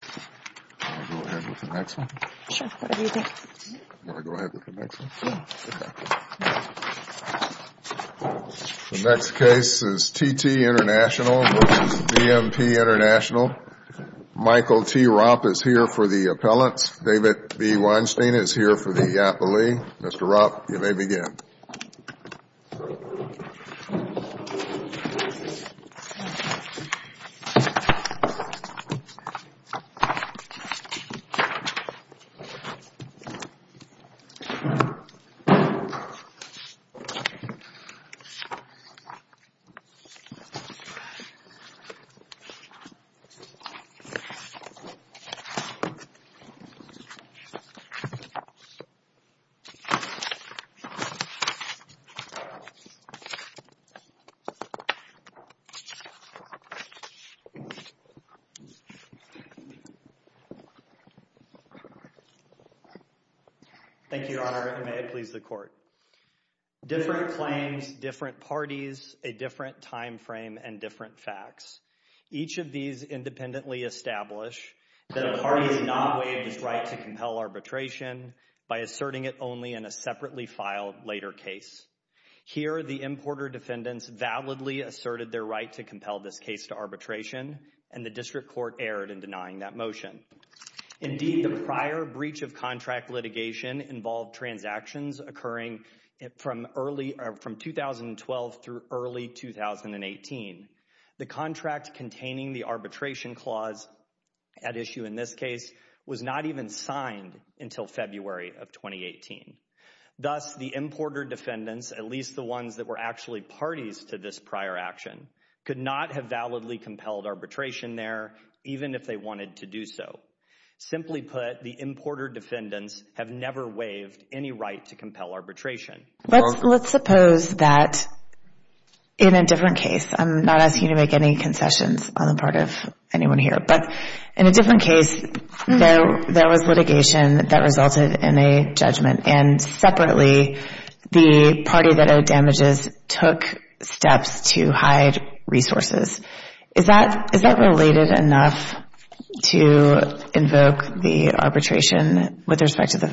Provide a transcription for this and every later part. The next case is T.T. International v. BMP International. Michael T. Ropp is here for the appellants. David B. Weinstein is here for the appellee. Mr. Ropp, you may begin. Michael T. Ropp is here for the appellant. Thank you, Your Honor, and may it please the Court. Different claims, different parties, a different time frame, and different facts. Each of these independently establish that a party has not waived its right to compel arbitration by asserting it only in a separately filed later case. Here, the importer defendants validly asserted their right to compel this case to arbitration, and the district court erred in denying that motion. Indeed, the prior breach of contract litigation involved transactions occurring from 2012 through early 2018. The contract containing the arbitration clause at issue in this case was not even signed until February of 2018. Thus, the importer defendants, at least the ones that were actually parties to this prior action, could not have validly compelled arbitration there, even if they wanted to do so. Simply put, the importer defendants have never waived any right to compel arbitration. Let's suppose that in a different case, I'm not asking you to make any concessions on the part of anyone here, but in a different case, there was litigation that resulted in a judgment, and separately, the party that owed damages took steps to hide resources. Is that related enough to invoke the arbitration with respect to the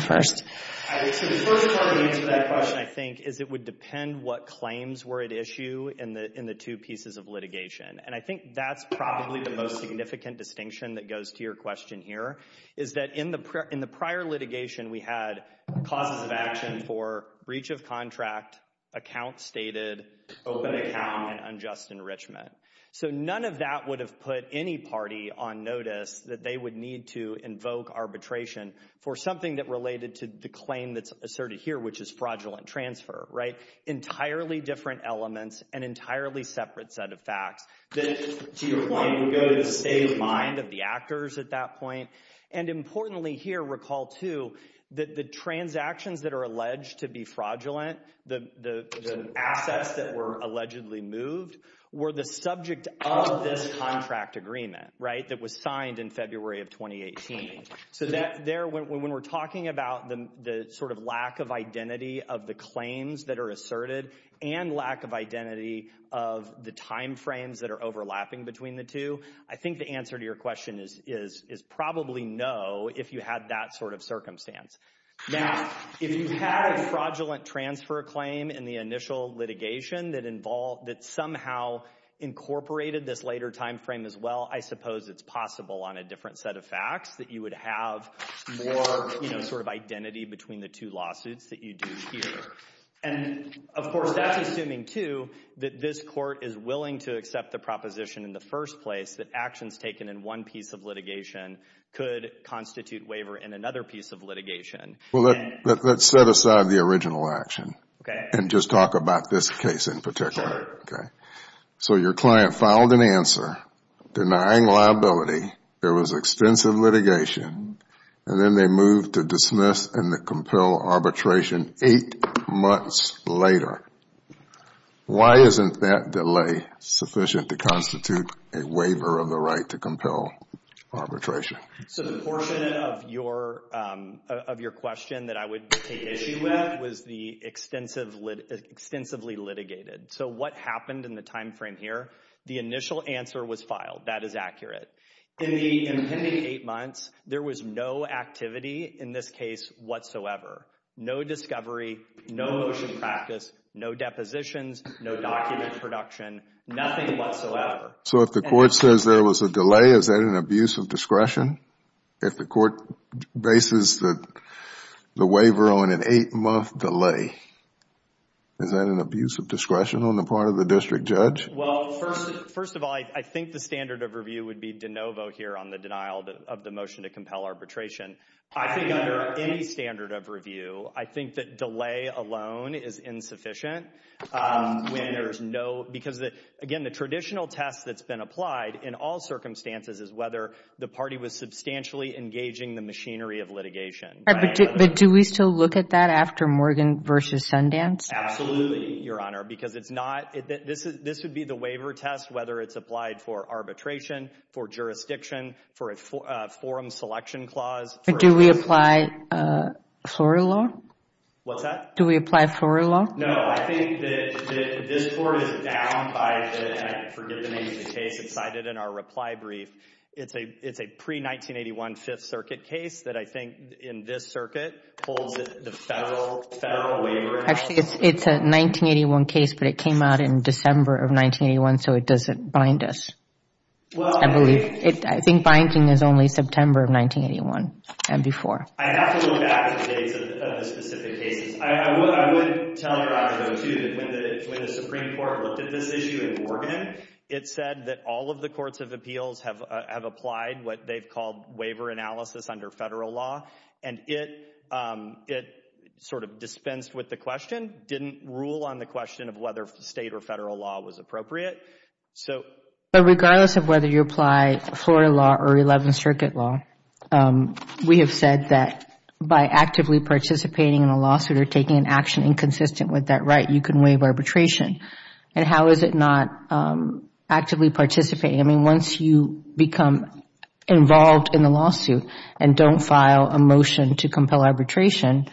first? The first part of the answer to that question, I think, is it would depend what claims were at issue in the two pieces of litigation, and I think that's probably the most significant distinction that goes to your question here, is that in the prior litigation, we had causes of action for breach of contract, account stated, open account, and unjust enrichment. So none of that would have put any party on notice that they would need to invoke arbitration for something that related to the claim that's asserted here, which is fraudulent transfer. Entirely different elements, an entirely separate set of facts. To your point, we go to the state of mind of the actors at that point, and importantly here, recall, too, that the transactions that are alleged to be fraudulent, the assets that were allegedly moved, were the subject of this contract agreement that was signed in February of 2018. So there, when we're talking about the sort of lack of identity of the claims that are asserted, and lack of identity of the time frames that are overlapping between the two, I think the answer to your question is probably no if you had that sort of circumstance. Now, if you had a fraudulent transfer claim in the initial litigation that somehow incorporated this later time frame as well, I suppose it's possible on a different set of facts that you would have more sort of identity between the two lawsuits that you do here. And, of course, that's assuming, too, that this court is willing to accept the proposition in the first place that actions taken in one piece of litigation could constitute waiver in another piece of litigation. Well, let's set aside the original action and just talk about this case in particular. So your client filed an answer denying liability. There was extensive litigation. And then they moved to dismiss and compel arbitration eight months later. Why isn't that delay sufficient to constitute a waiver of the right to compel arbitration? So the portion of your question that I would take issue with was the extensively litigated. So what happened in the time frame here? The initial answer was filed. That is accurate. In the impending eight months, there was no activity in this case whatsoever. No discovery, no motion practice, no depositions, no document production, nothing whatsoever. So if the court says there was a delay, is that an abuse of discretion? If the court bases the waiver on an eight-month delay, is that an abuse of discretion on the part of the district judge? Well, first of all, I think the standard of review would be de novo here on the denial of the motion to compel arbitration. I think under any standard of review, I think that delay alone is insufficient. Because, again, the traditional test that's been applied in all circumstances is whether the party was substantially engaging the machinery of litigation. But do we still look at that after Morgan v. Sundance? Absolutely, Your Honor, because this would be the waiver test, whether it's applied for arbitration, for jurisdiction, for a forum selection clause. Do we apply Florida law? What's that? Do we apply Florida law? No, I think that this court is down by, and I forget the name of the case that's cited in our reply brief. It's a pre-1981 Fifth Circuit case that I think in this circuit holds the federal waiver. Actually, it's a 1981 case, but it came out in December of 1981, so it doesn't bind us, I believe. I think binding is only September of 1981 and before. I'd have to look back at the dates of the specific cases. I would tell Your Honor, too, that when the Supreme Court looked at this issue in Morgan, it said that all of the courts of appeals have applied what they've called waiver analysis under federal law, and it sort of dispensed with the question, didn't rule on the question of whether state or federal law was appropriate. Regardless of whether you apply Florida law or Eleventh Circuit law, we have said that by actively participating in a lawsuit or taking an action inconsistent with that right, you can waive arbitration, and how is it not actively participating? I mean, once you become involved in the lawsuit and don't file a motion to compel arbitration,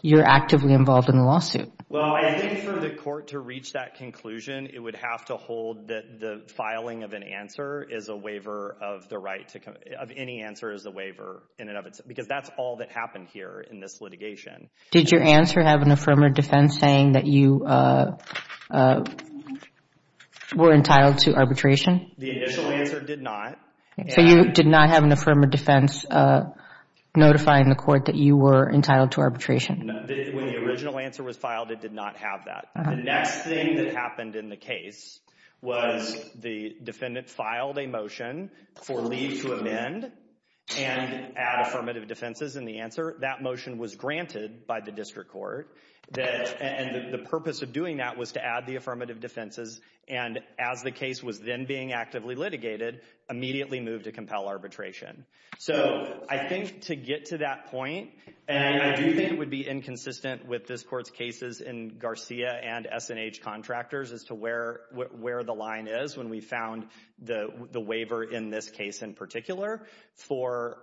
you're actively involved in the lawsuit. Well, I think for the court to reach that conclusion, it would have to hold that the filing of an answer is a waiver of the right to come, of any answer is a waiver in and of itself, because that's all that happened here in this litigation. Did your answer have an affirmative defense saying that you were entitled to arbitration? The initial answer did not. So you did not have an affirmative defense notifying the court that you were entitled to arbitration? When the original answer was filed, it did not have that. The next thing that happened in the case was the defendant filed a motion for leave to amend and add affirmative defenses in the answer. That motion was granted by the district court, and the purpose of doing that was to add the affirmative defenses, and as the case was then being actively litigated, immediately moved to compel arbitration. So I think to get to that point, and I do think it would be inconsistent with this court's cases in Garcia and S&H contractors as to where the line is when we found the waiver in this case in particular for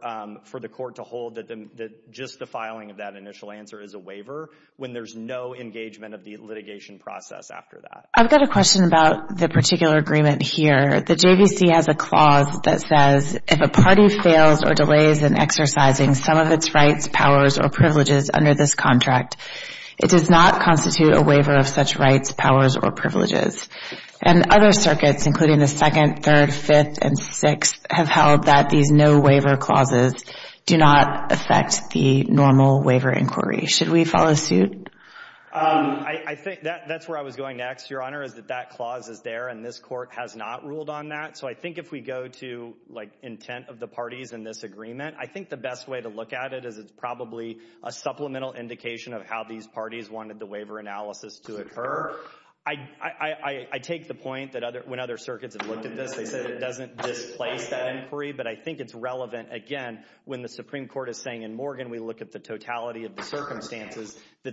the court to hold that just the filing of that initial answer is a waiver when there's no engagement of the litigation process after that. I've got a question about the particular agreement here. The JVC has a clause that says, if a party fails or delays in exercising some of its rights, powers, or privileges under this contract, it does not constitute a waiver of such rights, powers, or privileges. And other circuits, including the Second, Third, Fifth, and Sixth, have held that these no-waiver clauses do not affect the normal waiver inquiry. Should we follow suit? I think that's where I was going next, Your Honor, is that that clause is there and this court has not ruled on that. So I think if we go to intent of the parties in this agreement, I think the best way to look at it is it's probably a supplemental indication of how these parties wanted the waiver analysis to occur. I take the point that when other circuits have looked at this, they said it doesn't displace that inquiry, but I think it's relevant, again, when the Supreme Court is saying, in Morgan, we look at the totality of the circumstances, Do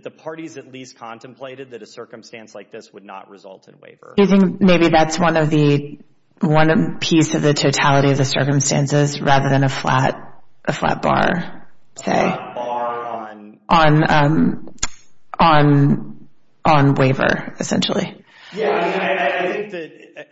you think maybe that's one piece of the totality of the circumstances rather than a flat bar, say, on waiver, essentially?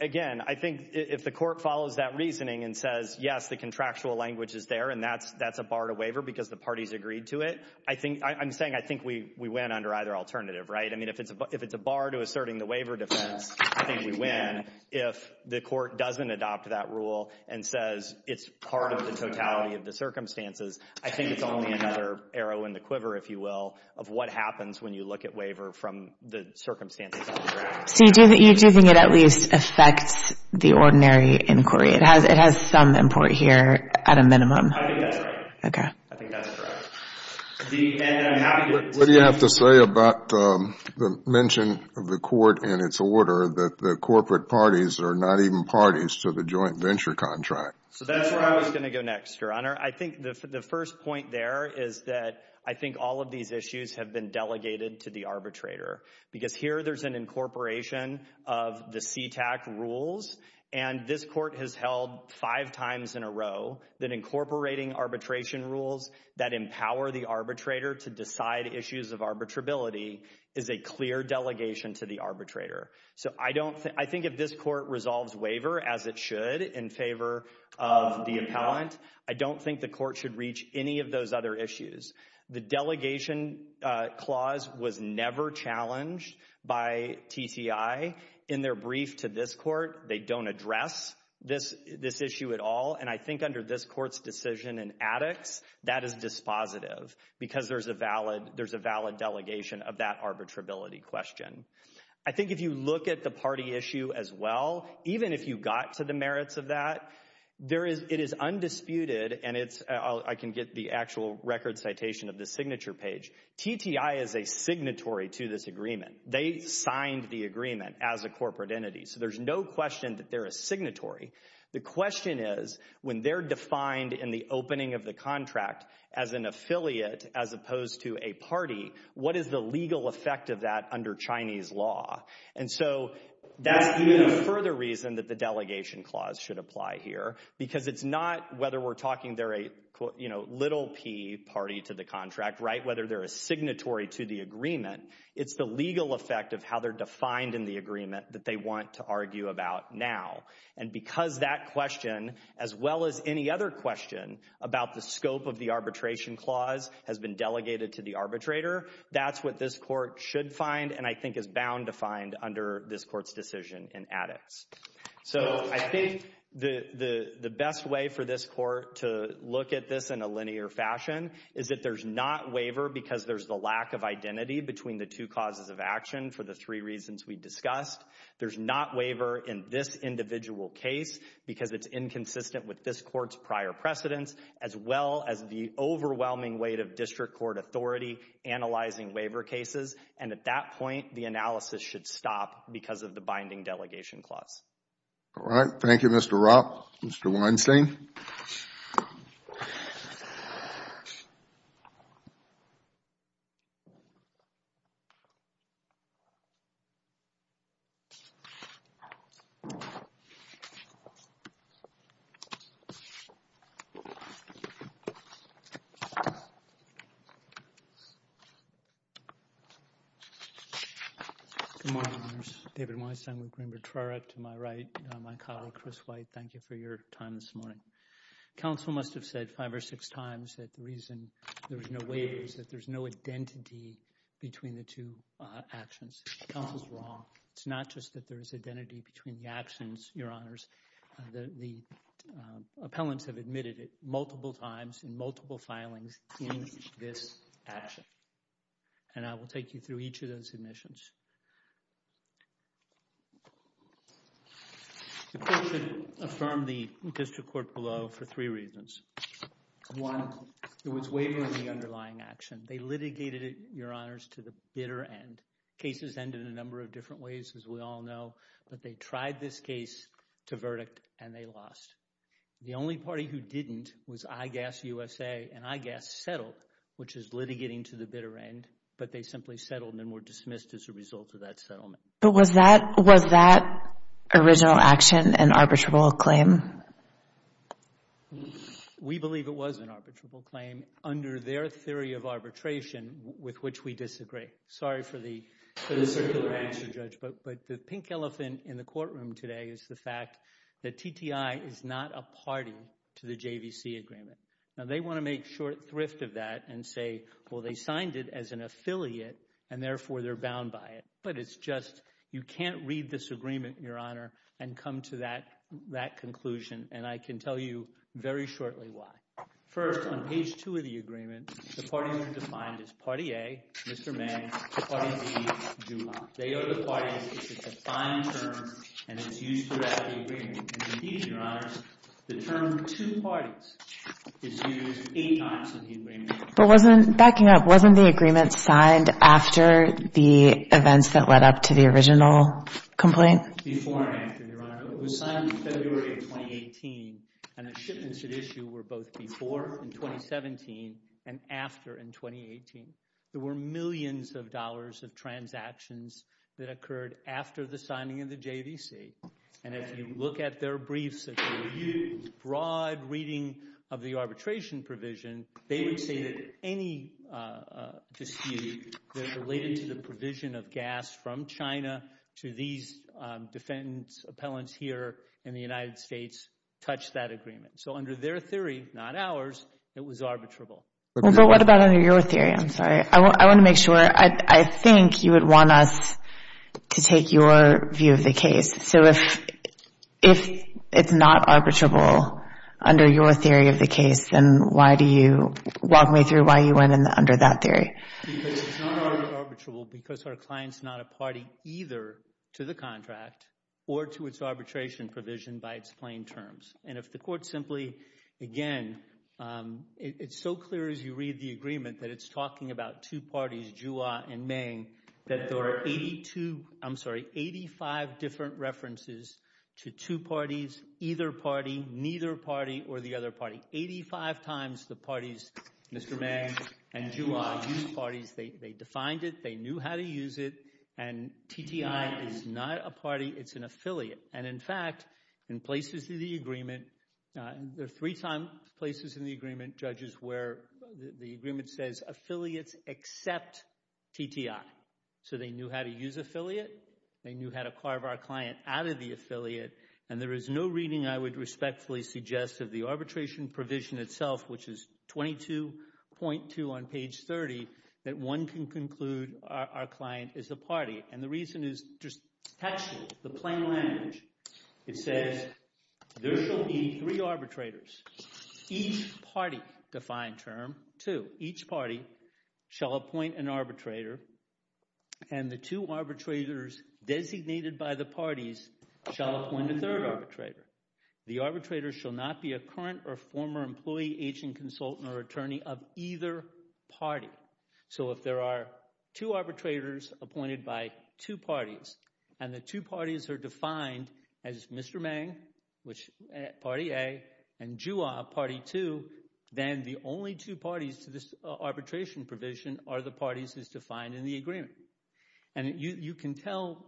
Again, I think if the court follows that reasoning and says, yes, the contractual language is there and that's a bar to waiver because the parties agreed to it, I'm saying I think we win under either alternative, right? I mean, if it's a bar to asserting the waiver defense, I think we win. If the court doesn't adopt that rule and says it's part of the totality of the circumstances, I think it's only another arrow in the quiver, if you will, of what happens when you look at waiver from the circumstances of the contract. So you do think it at least affects the ordinary inquiry? It has some import here at a minimum. I think that's right. Okay. I think that's correct. What do you have to say about the mention of the court and its order that the corporate parties are not even parties to the joint venture contract? That's where I was going to go next, Your Honor. I think the first point there is that I think all of these issues have been delegated to the arbitrator because here there's an incorporation of the CTAC rules, and this court has held five times in a row that incorporating arbitration rules that empower the arbitrator to decide issues of arbitrability is a clear delegation to the arbitrator. So I think if this court resolves waiver, as it should, in favor of the appellant, I don't think the court should reach any of those other issues. The delegation clause was never challenged by TCI. In their brief to this court, they don't address this issue at all, and I think under this court's decision in addicts, that is dispositive because there's a valid delegation of that arbitrability question. I think if you look at the party issue as well, even if you got to the merits of that, it is undisputed, and I can get the actual record citation of the signature page. TTI is a signatory to this agreement. They signed the agreement as a corporate entity, so there's no question that they're a signatory. The question is when they're defined in the opening of the contract as an affiliate as opposed to a party, what is the legal effect of that under Chinese law? And so that's even a further reason that the delegation clause should apply here because it's not whether we're talking they're a little p party to the contract, right, whether they're a signatory to the agreement. It's the legal effect of how they're defined in the agreement that they want to argue about now. And because that question as well as any other question about the scope of the arbitration clause has been delegated to the arbitrator, that's what this court should find and I think is bound to find under this court's decision in addicts. So I think the best way for this court to look at this in a linear fashion is that there's not waiver because there's the lack of identity between the two causes of action for the three reasons we discussed. There's not waiver in this individual case because it's inconsistent with this court's prior precedence as well as the overwhelming weight of district court authority analyzing waiver cases and at that point the analysis should stop because of the binding delegation clause. All right. Thank you, Mr. Roth. Mr. Weinstein. Good morning, members. David Weinstein with Greenberg-Trorach. To my right, my colleague, Chris White. Thank you for your time this morning. Council must have said five or six times that the reason there's no waiver is that there's no identity between the two actions. It's not true. It's not true. It's not true. It's not true. It's not just that there's identity between the actions, Your Honors. The appellants have admitted it multiple times in multiple filings in this action and I will take you through each of those admissions. The court should affirm the district court below for three reasons. One, there was waiver in the underlying action. They litigated it, Your Honors, to the bitter end. Cases end in a number of different ways, as we all know, but they tried this case to verdict and they lost. The only party who didn't was IGAS-USA, and IGAS settled, which is litigating to the bitter end, but they simply settled and were dismissed as a result of that settlement. But was that original action an arbitrable claim? We believe it was an arbitrable claim under their theory of arbitration with which we disagree. Sorry for the circular answer, Judge, but the pink elephant in the courtroom today is the fact that TTI is not a party to the JVC agreement. Now, they want to make short thrift of that and say, well, they signed it as an affiliate and therefore they're bound by it. But it's just you can't read this agreement, Your Honor, and come to that conclusion, and I can tell you very shortly why. First, on page 2 of the agreement, the parties are defined as Party A, Mr. May, Party B, Juha. They are the parties, it's a defined term, and it's used throughout the agreement. Indeed, Your Honor, the term two parties is used eight times in the agreement. But wasn't, backing up, wasn't the agreement signed after the events that led up to the original complaint? Before and after, Your Honor. It was signed in February of 2018, and the shipments at issue were both before in 2017 and after in 2018. There were millions of dollars of transactions that occurred after the signing of the JVC. And if you look at their briefs, a broad reading of the arbitration provision, they would say that any dispute related to the provision of gas from China to these defendants, appellants here in the United States, touched that agreement. So under their theory, not ours, it was arbitrable. Well, but what about under your theory? I'm sorry. I want to make sure. I think you would want us to take your view of the case. So if it's not arbitrable under your theory of the case, then why do you walk me through why you went under that theory? Because it's not always arbitrable because our client's not a party either to the contract or to its arbitration provision by its plain terms. And if the court simply, again, it's so clear as you read the agreement that it's talking about two parties, Jua and Meng, that there are 85 different references to two parties, either party, neither party, or the other party. Eighty-five times the parties, Mr. Meng and Jua, used parties. They defined it. They knew how to use it. And TTI is not a party. It's an affiliate. And, in fact, in places in the agreement, there are three places in the agreement, judges, where the agreement says affiliates except TTI. So they knew how to use affiliate. They knew how to carve our client out of the affiliate. And there is no reading I would respectfully suggest of the arbitration provision itself, which is 22.2 on page 30, that one can conclude our client is a party. And the reason is just textual, the plain language. It says there shall be three arbitrators. Each party defined term, two, each party shall appoint an arbitrator, and the two arbitrators designated by the parties shall appoint a third arbitrator. The arbitrator shall not be a current or former employee, agent, consultant, or attorney of either party. So if there are two arbitrators appointed by two parties and the two parties are defined as Mr. Mang, which is party A, and Juha, party 2, then the only two parties to this arbitration provision are the parties as defined in the agreement. And you can tell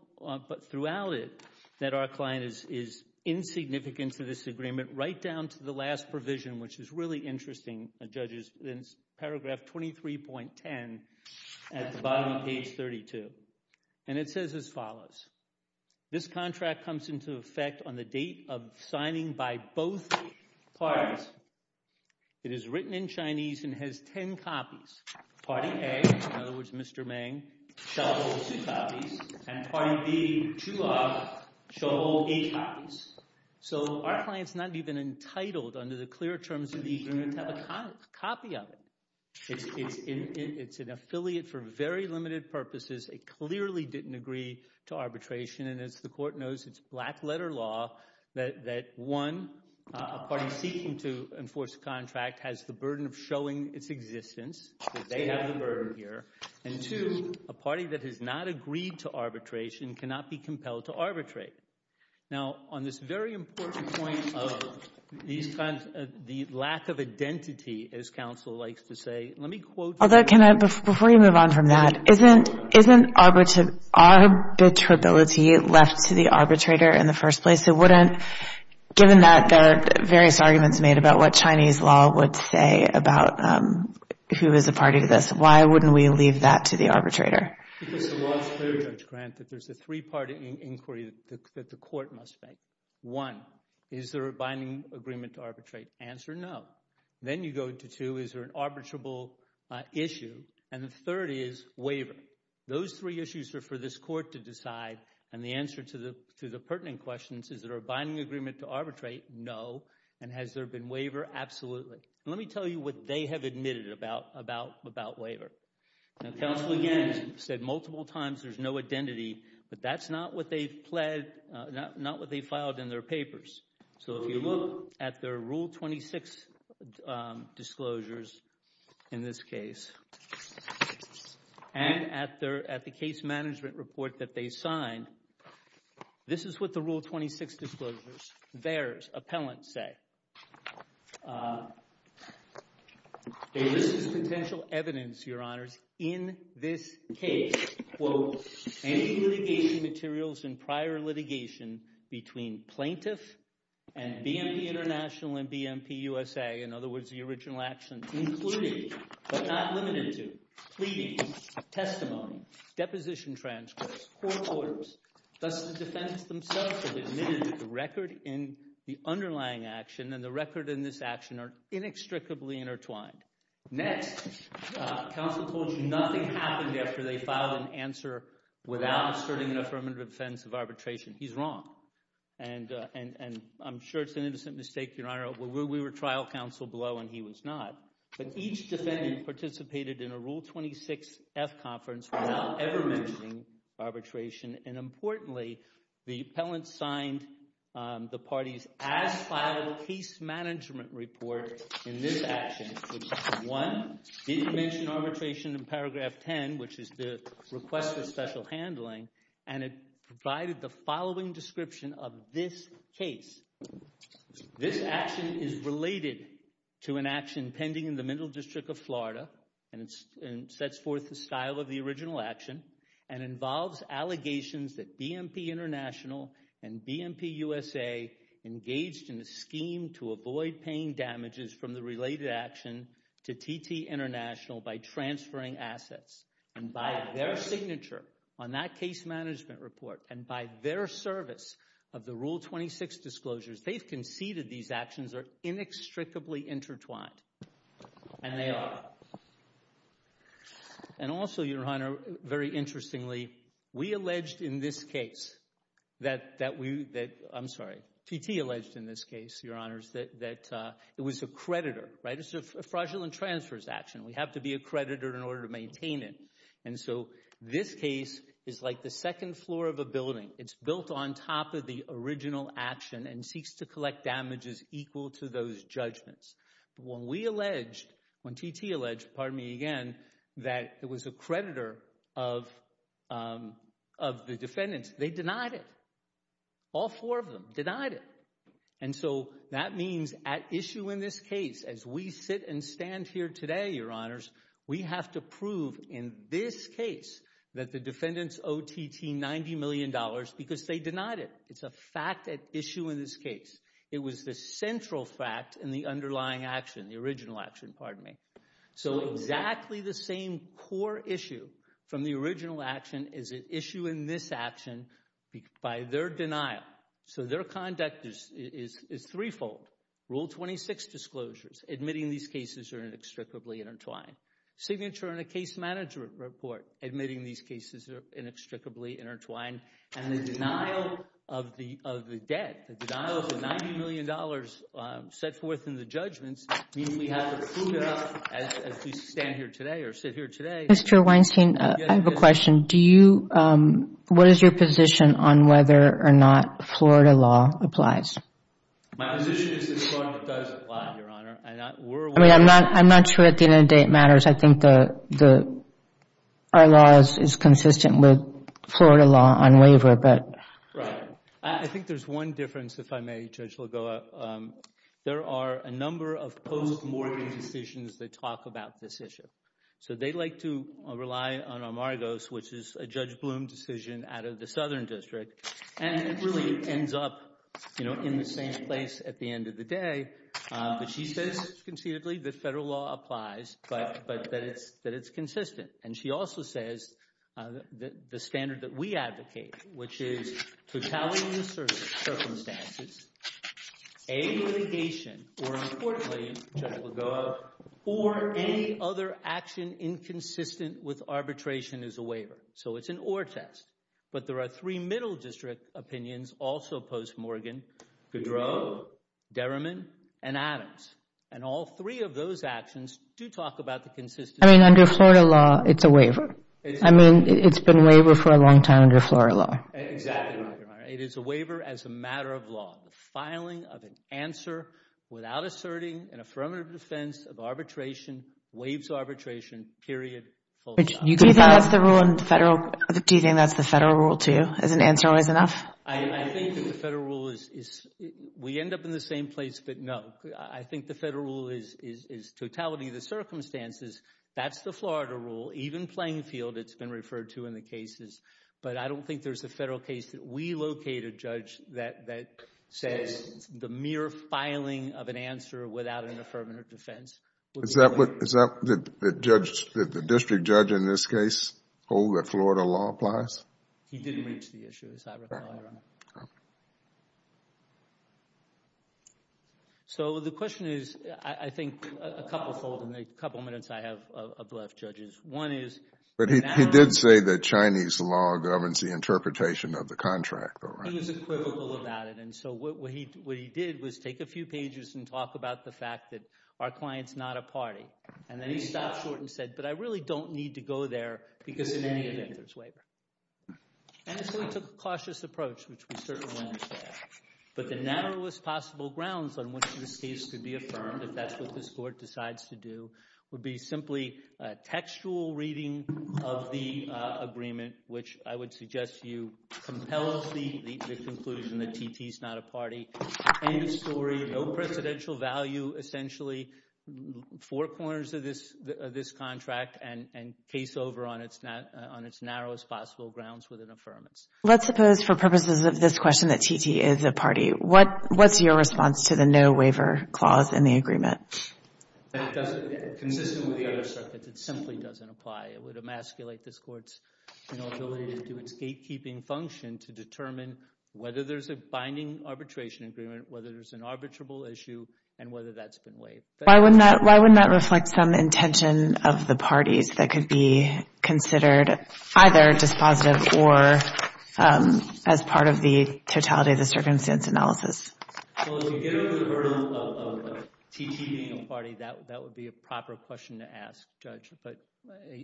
throughout it that our client is insignificant to this agreement right down to the last provision, which is really interesting, judges, in paragraph 23.10 at the bottom of page 32. And it says as follows. This contract comes into effect on the date of signing by both parties. It is written in Chinese and has ten copies. Party A, in other words Mr. Mang, shall hold two copies, and party B, Juha, shall hold eight copies. So our client's not even entitled under the clear terms of the agreement to have a copy of it. It's an affiliate for very limited purposes. It clearly didn't agree to arbitration, and as the Court knows it's black-letter law that one, a party seeking to enforce a contract has the burden of showing its existence, so they have the burden here, and two, a party that has not agreed to arbitration cannot be compelled to arbitrate. Now, on this very important point of the lack of identity, as counsel likes to say, let me quote you. Although can I, before you move on from that, isn't arbitrability left to the arbitrator in the first place? It wouldn't, given that there are various arguments made about what Chinese law would say about who is a party to this, why wouldn't we leave that to the arbitrator? Because the law is clear, Judge Grant, that there's a three-party inquiry that the Court must make. One, is there a binding agreement to arbitrate? Answer, no. Then you go to two, is there an arbitrable issue? And the third is waiver. Those three issues are for this Court to decide, and the answer to the pertinent questions is there a binding agreement to arbitrate? No. And has there been waiver? Absolutely. Let me tell you what they have admitted about waiver. Now, counsel again said multiple times there's no identity, but that's not what they filed in their papers. So if you look at their Rule 26 disclosures in this case and at the case management report that they signed, this is what the Rule 26 disclosures, theirs, appellants say. They list as potential evidence, Your Honors, in this case, quote, any litigation materials in prior litigation between plaintiff and BNP International and BNP USA, in other words, the original actions included, but not limited to, pleadings, testimony, deposition transcripts, court orders. Thus, the defendants themselves have admitted that the record in the underlying action and the record in this action are inextricably intertwined. Next, counsel told you nothing happened after they filed an answer without asserting an affirmative defense of arbitration. He's wrong. And I'm sure it's an innocent mistake, Your Honor. We were trial counsel below, and he was not. But each defendant participated in a Rule 26-F conference without ever mentioning arbitration. And importantly, the appellants signed the parties as filed case management report in this action, which one, didn't mention arbitration in paragraph 10, which is the request for special handling, and it provided the following description of this case. This action is related to an action pending in the Middle District of Florida, and it sets forth the style of the original action and involves allegations that BNP International and BNP USA engaged in a scheme to avoid paying damages from the related action to TT International by transferring assets. And by their signature on that case management report and by their service of the Rule 26 disclosures, they've conceded these actions are inextricably intertwined. And they are. And also, Your Honor, very interestingly, we alleged in this case that we... I'm sorry, TT alleged in this case, Your Honors, that it was a creditor, right? It's a fraudulent transfers action. We have to be a creditor in order to maintain it. And so this case is like the second floor of a building. It's built on top of the original action and seeks to collect damages equal to those judgments. When we alleged, when TT alleged, pardon me again, that it was a creditor of the defendants, they denied it. All four of them denied it. And so that means at issue in this case, as we sit and stand here today, Your Honors, we have to prove in this case that the defendants owe TT $90 million because they denied it. It's a fact at issue in this case. It was the central fact in the underlying action, the original action, pardon me. So exactly the same core issue from the original action is at issue in this action by their denial. So their conduct is threefold. Rule 26 disclosures, admitting these cases are inextricably intertwined. Signature in a case management report, admitting these cases are inextricably intertwined. And the denial of the debt, the denial of the $90 million set forth in the judgments, means we have to prove it as we stand here today or sit here today. Mr. Weinstein, I have a question. What is your position on whether or not Florida law applies? My position is that Florida does apply, Your Honor. I'm not sure at the end of the day it matters. I think our law is consistent with Florida law on waiver. Right. I think there's one difference, if I may, Judge Lagoa. There are a number of post-Morgan decisions that talk about this issue. So they like to rely on Amargos, which is a Judge Blum decision out of the Southern District. And it really ends up, you know, in the same place at the end of the day. But she says concededly that federal law applies, but that it's consistent. And she also says the standard that we advocate, which is totality of circumstances, a litigation, or importantly, Judge Lagoa, or any other action inconsistent with arbitration is a waiver. So it's an or test. But there are three middle district opinions also post-Morgan. Goudreau, Derriman, and Adams. And all three of those actions do talk about the consistency. I mean, under Florida law, it's a waiver. I mean, it's been a waiver for a long time under Florida law. Exactly, Your Honor. It is a waiver as a matter of law. The filing of an answer without asserting an affirmative defense of arbitration waives arbitration, period, full time. Do you think that's the federal rule, too, as an answer always enough? I think that the federal rule is, we end up in the same place, but no. I think the federal rule is totality of the circumstances. That's the Florida rule. Even playing field, it's been referred to in the cases. But I don't think there's a federal case that we locate a judge that says the mere filing of an answer without an affirmative defense. Is that what the district judge in this case hold that Florida law applies? He didn't reach the issue, as I recall, Your Honor. Okay. So the question is, I think, a couple minutes I have left, judges. One is... But he did say that Chinese law governs the interpretation of the contract. He was equivocal about it. And so what he did was take a few pages and talk about the fact that our client's not a party. And then he stopped short and said, but I really don't need to go there because in any event there's waiver. And so he took a cautious approach, which we certainly understand. But the narrowest possible grounds on which this case could be affirmed, if that's what this court decides to do, would be simply textual reading of the agreement, which I would suggest to you compels the conclusion that TT's not a party. End of story. No presidential value, essentially. Four corners of this contract, and case over on its narrowest possible grounds with an affirmance. Let's suppose for purposes of this question that TT is a party. What's your response to the no waiver clause in the agreement? Consistent with the other circuits, it simply doesn't apply. It would emasculate this court's ability to do its gatekeeping function and to determine whether there's a binding arbitration agreement, whether there's an arbitrable issue, and whether that's been waived. Why wouldn't that reflect some intention of the parties that could be considered either dispositive or as part of the totality of the circumstance analysis? Well, if you give it the burden of TT being a party, that would be a proper question to ask, Judge. But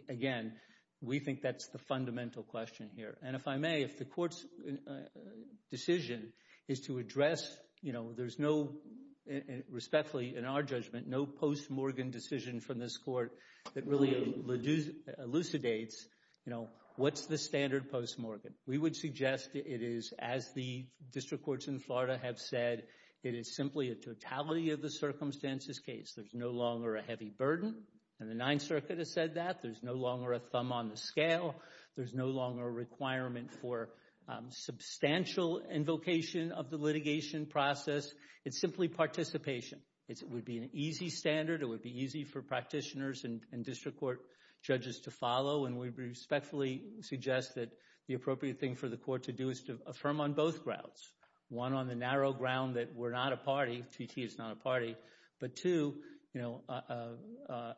again, we think that's the fundamental question here. And if I may, if the court's decision is to address, you know, there's no, respectfully, in our judgment, no post-Morgan decision from this court that really elucidates, you know, what's the standard post-Morgan? We would suggest it is, as the district courts in Florida have said, it is simply a totality of the circumstances case. There's no longer a heavy burden, and the Ninth Circuit has said that. There's no longer a thumb on the scale. There's no longer a requirement for substantial invocation of the litigation process. It's simply participation. It would be an easy standard. It would be easy for practitioners and district court judges to follow, and we respectfully suggest that the appropriate thing for the court to do is to affirm on both grounds, one, on the narrow ground that we're not a party, TT is not a party, but two, you know,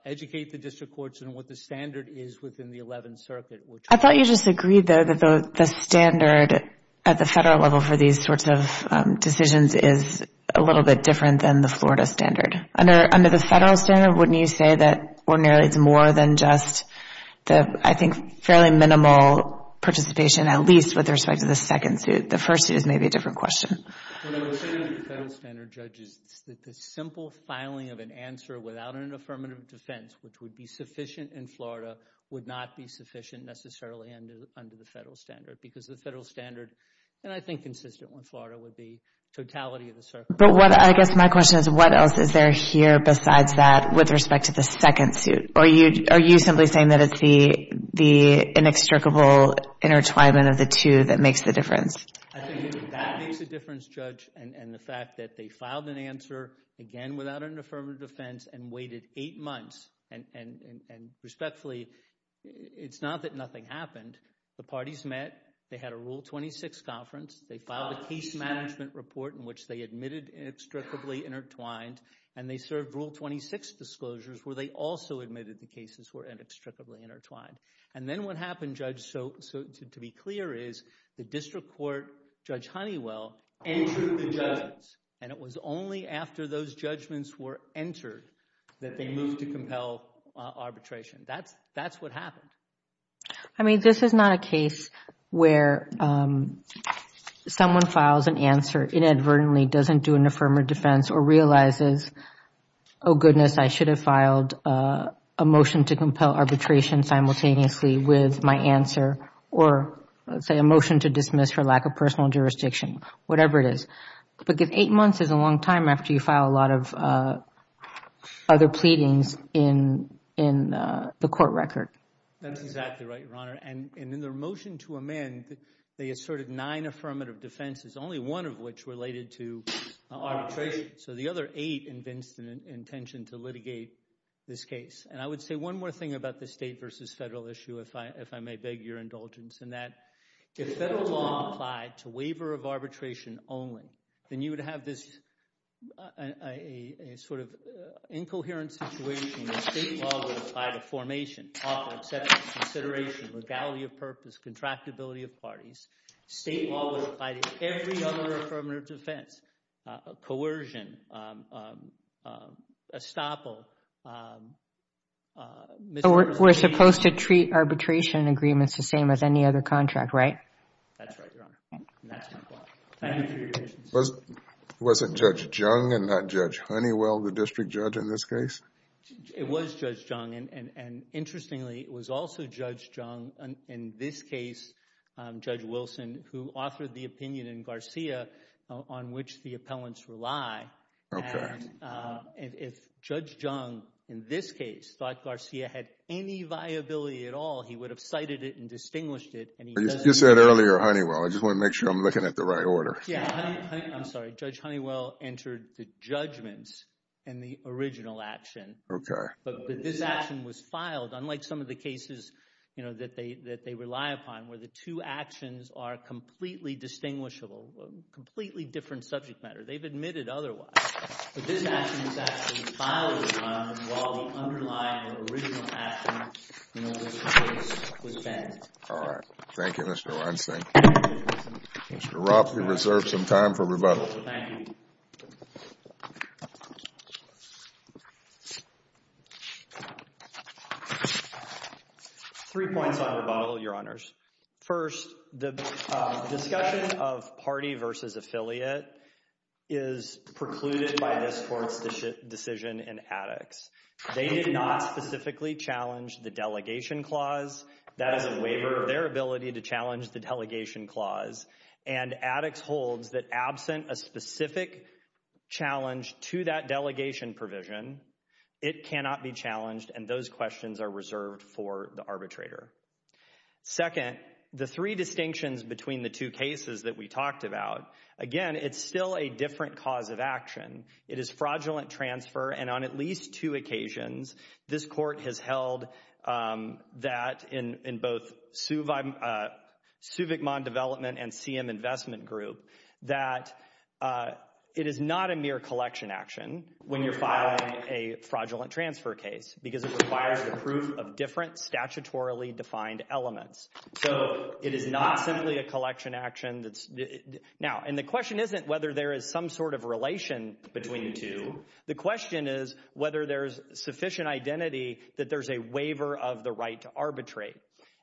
educate the district courts on what the standard is within the Eleventh Circuit. I thought you just agreed, though, that the standard at the federal level for these sorts of decisions is a little bit different than the Florida standard. Under the federal standard, wouldn't you say that ordinarily it's more than just the, I think, fairly minimal participation, at least with respect to the second suit? The first suit is maybe a different question. What I would say to the federal standard judges is that the simple filing of an answer without an affirmative defense, which would be sufficient in Florida, would not be sufficient necessarily under the federal standard because the federal standard, and I think consistent with Florida, would be totality of the circuit. But I guess my question is what else is there here besides that with respect to the second suit? Are you simply saying that it's the inextricable intertwinement of the two that makes the difference? I think that makes the difference, Judge, and the fact that they filed an answer, again, without an affirmative defense and waited eight months, and respectfully, it's not that nothing happened. The parties met. They had a Rule 26 conference. They filed a case management report in which they admitted inextricably intertwined, and they served Rule 26 disclosures where they also admitted the cases were inextricably intertwined. And then what happened, Judge, to be clear, is the district court, Judge Honeywell, entered the judgments, and it was only after those judgments were entered that they moved to compel arbitration. That's what happened. I mean, this is not a case where someone files an answer inadvertently, doesn't do an affirmative defense, or realizes, oh, goodness, I should have filed a motion to compel arbitration simultaneously with my answer or, say, a motion to dismiss for lack of personal jurisdiction, whatever it is. But eight months is a long time after you file a lot of other pleadings in the court record. That's exactly right, Your Honor. And in their motion to amend, they asserted nine affirmative defenses, only one of which related to arbitration. So the other eight convinced an intention to litigate this case. And I would say one more thing about the state versus federal issue, if I may beg your indulgence, in that if federal law applied to waiver of arbitration only, then you would have this sort of incoherent situation where state law would apply to formation, offer, acceptance, consideration, legality of purpose, contractability of parties. State law would apply to every other affirmative defense, coercion, estoppel. We're supposed to treat arbitration agreements the same as any other contract, right? That's right, Your Honor. And that's my point. Thank you for your patience. Was it Judge Jung and not Judge Honeywell, the district judge in this case? It was Judge Jung. And interestingly, it was also Judge Jung in this case, Judge Wilson, who authored the opinion in Garcia on which the appellants rely. Okay. And if Judge Jung in this case thought Garcia had any viability at all, he would have cited it and distinguished it. You said earlier Honeywell. I just want to make sure I'm looking at the right order. Yeah. I'm sorry. Judge Honeywell entered the judgments in the original action. Okay. But this action was filed, unlike some of the cases that they rely upon, where the two actions are completely distinguishable, completely different subject matter. They've admitted otherwise. But this action was actually filed, Your Honor, while the underlying original action in this case was banned. All right. Thank you, Mr. Weinstein. Mr. Rupp, you reserve some time for rebuttal. Thank you. Three points on rebuttal, Your Honors. First, the discussion of party versus affiliate is precluded by this Court's decision in Addicts. They did not specifically challenge the delegation clause. That is a waiver of their ability to challenge the delegation clause. And Addicts holds that absent a specific challenge to that delegation provision, it cannot be challenged, and those questions are reserved for the arbitrator. Second, the three distinctions between the two cases that we talked about, again, it's still a different cause of action. It is fraudulent transfer, and on at least two occasions, this Court has held that in both Suvikmon Development and CM Investment Group, that it is not a mere collection action when you're filing a fraudulent transfer case because it requires the proof of different statutorily defined elements. So it is not simply a collection action. Now, and the question isn't whether there is some sort of relation between the two. The question is whether there's sufficient identity that there's a waiver of the right to arbitrate.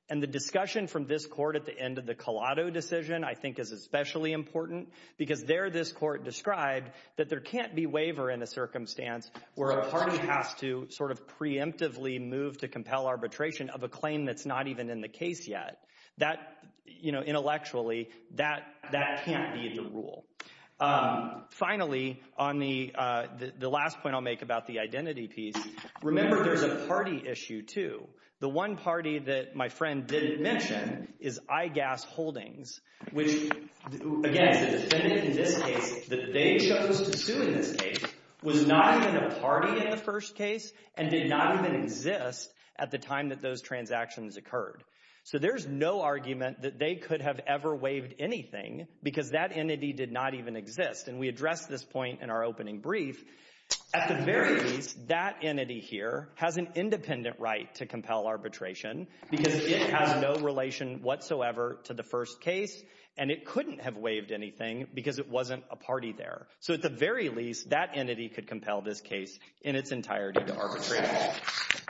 And the discussion from this Court at the end of the Collado decision, I think, is especially important because there this Court described that there can't be waiver in a circumstance where a party has to sort of preemptively move to compel arbitration of a claim that's not even in the case yet. That, you know, intellectually, that can't be the rule. Finally, on the last point I'll make about the identity piece, remember there's a party issue too. The one party that my friend didn't mention is IGAS Holdings, which, again, the defendant in this case, that they chose to sue in this case, was not even a party in the first case and did not even exist at the time that those transactions occurred. So there's no argument that they could have ever waived anything because that entity did not even exist. And we addressed this point in our opening brief. At the very least, that entity here has an independent right to compel arbitration because it has no relation whatsoever to the first case and it couldn't have waived anything because it wasn't a party there. So at the very least, that entity could compel this case in its entirety to arbitrate.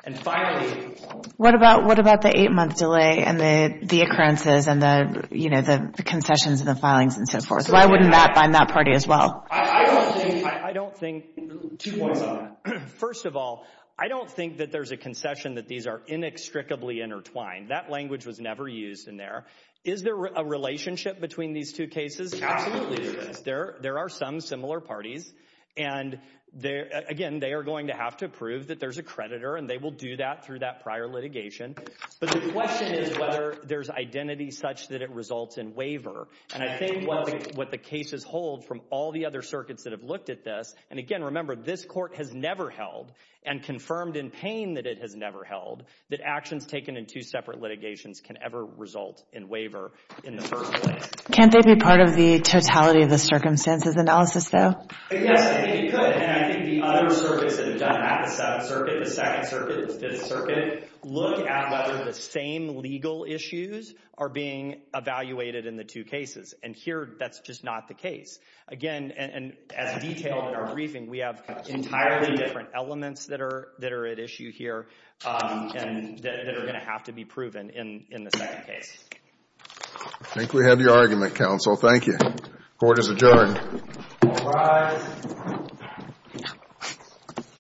And finally— What about the eight-month delay and the occurrences and the concessions and the filings and so forth? Why wouldn't that bind that party as well? I don't think— Two points on that. First of all, I don't think that there's a concession that these are inextricably intertwined. That language was never used in there. Is there a relationship between these two cases? Absolutely there is. There are some similar parties. And again, they are going to have to prove that there's a creditor and they will do that through that prior litigation. But the question is whether there's identity such that it results in waiver. And I think what the cases hold from all the other circuits that have looked at this— And again, remember, this court has never held and confirmed in pain that it has never held that actions taken in two separate litigations can ever result in waiver in the first place. Can't they be part of the totality of the circumstances analysis, though? Yes, I think you could. And I think the other circuits that have done that— the Seventh Circuit, the Second Circuit, the Fifth Circuit— look at whether the same legal issues are being evaluated in the two cases. And here, that's just not the case. Again, and as detailed in our briefing, we have entirely different elements that are at issue here. And that are going to have to be proven in the second case. I think we have your argument, counsel. Thank you. Court is adjourned. All rise.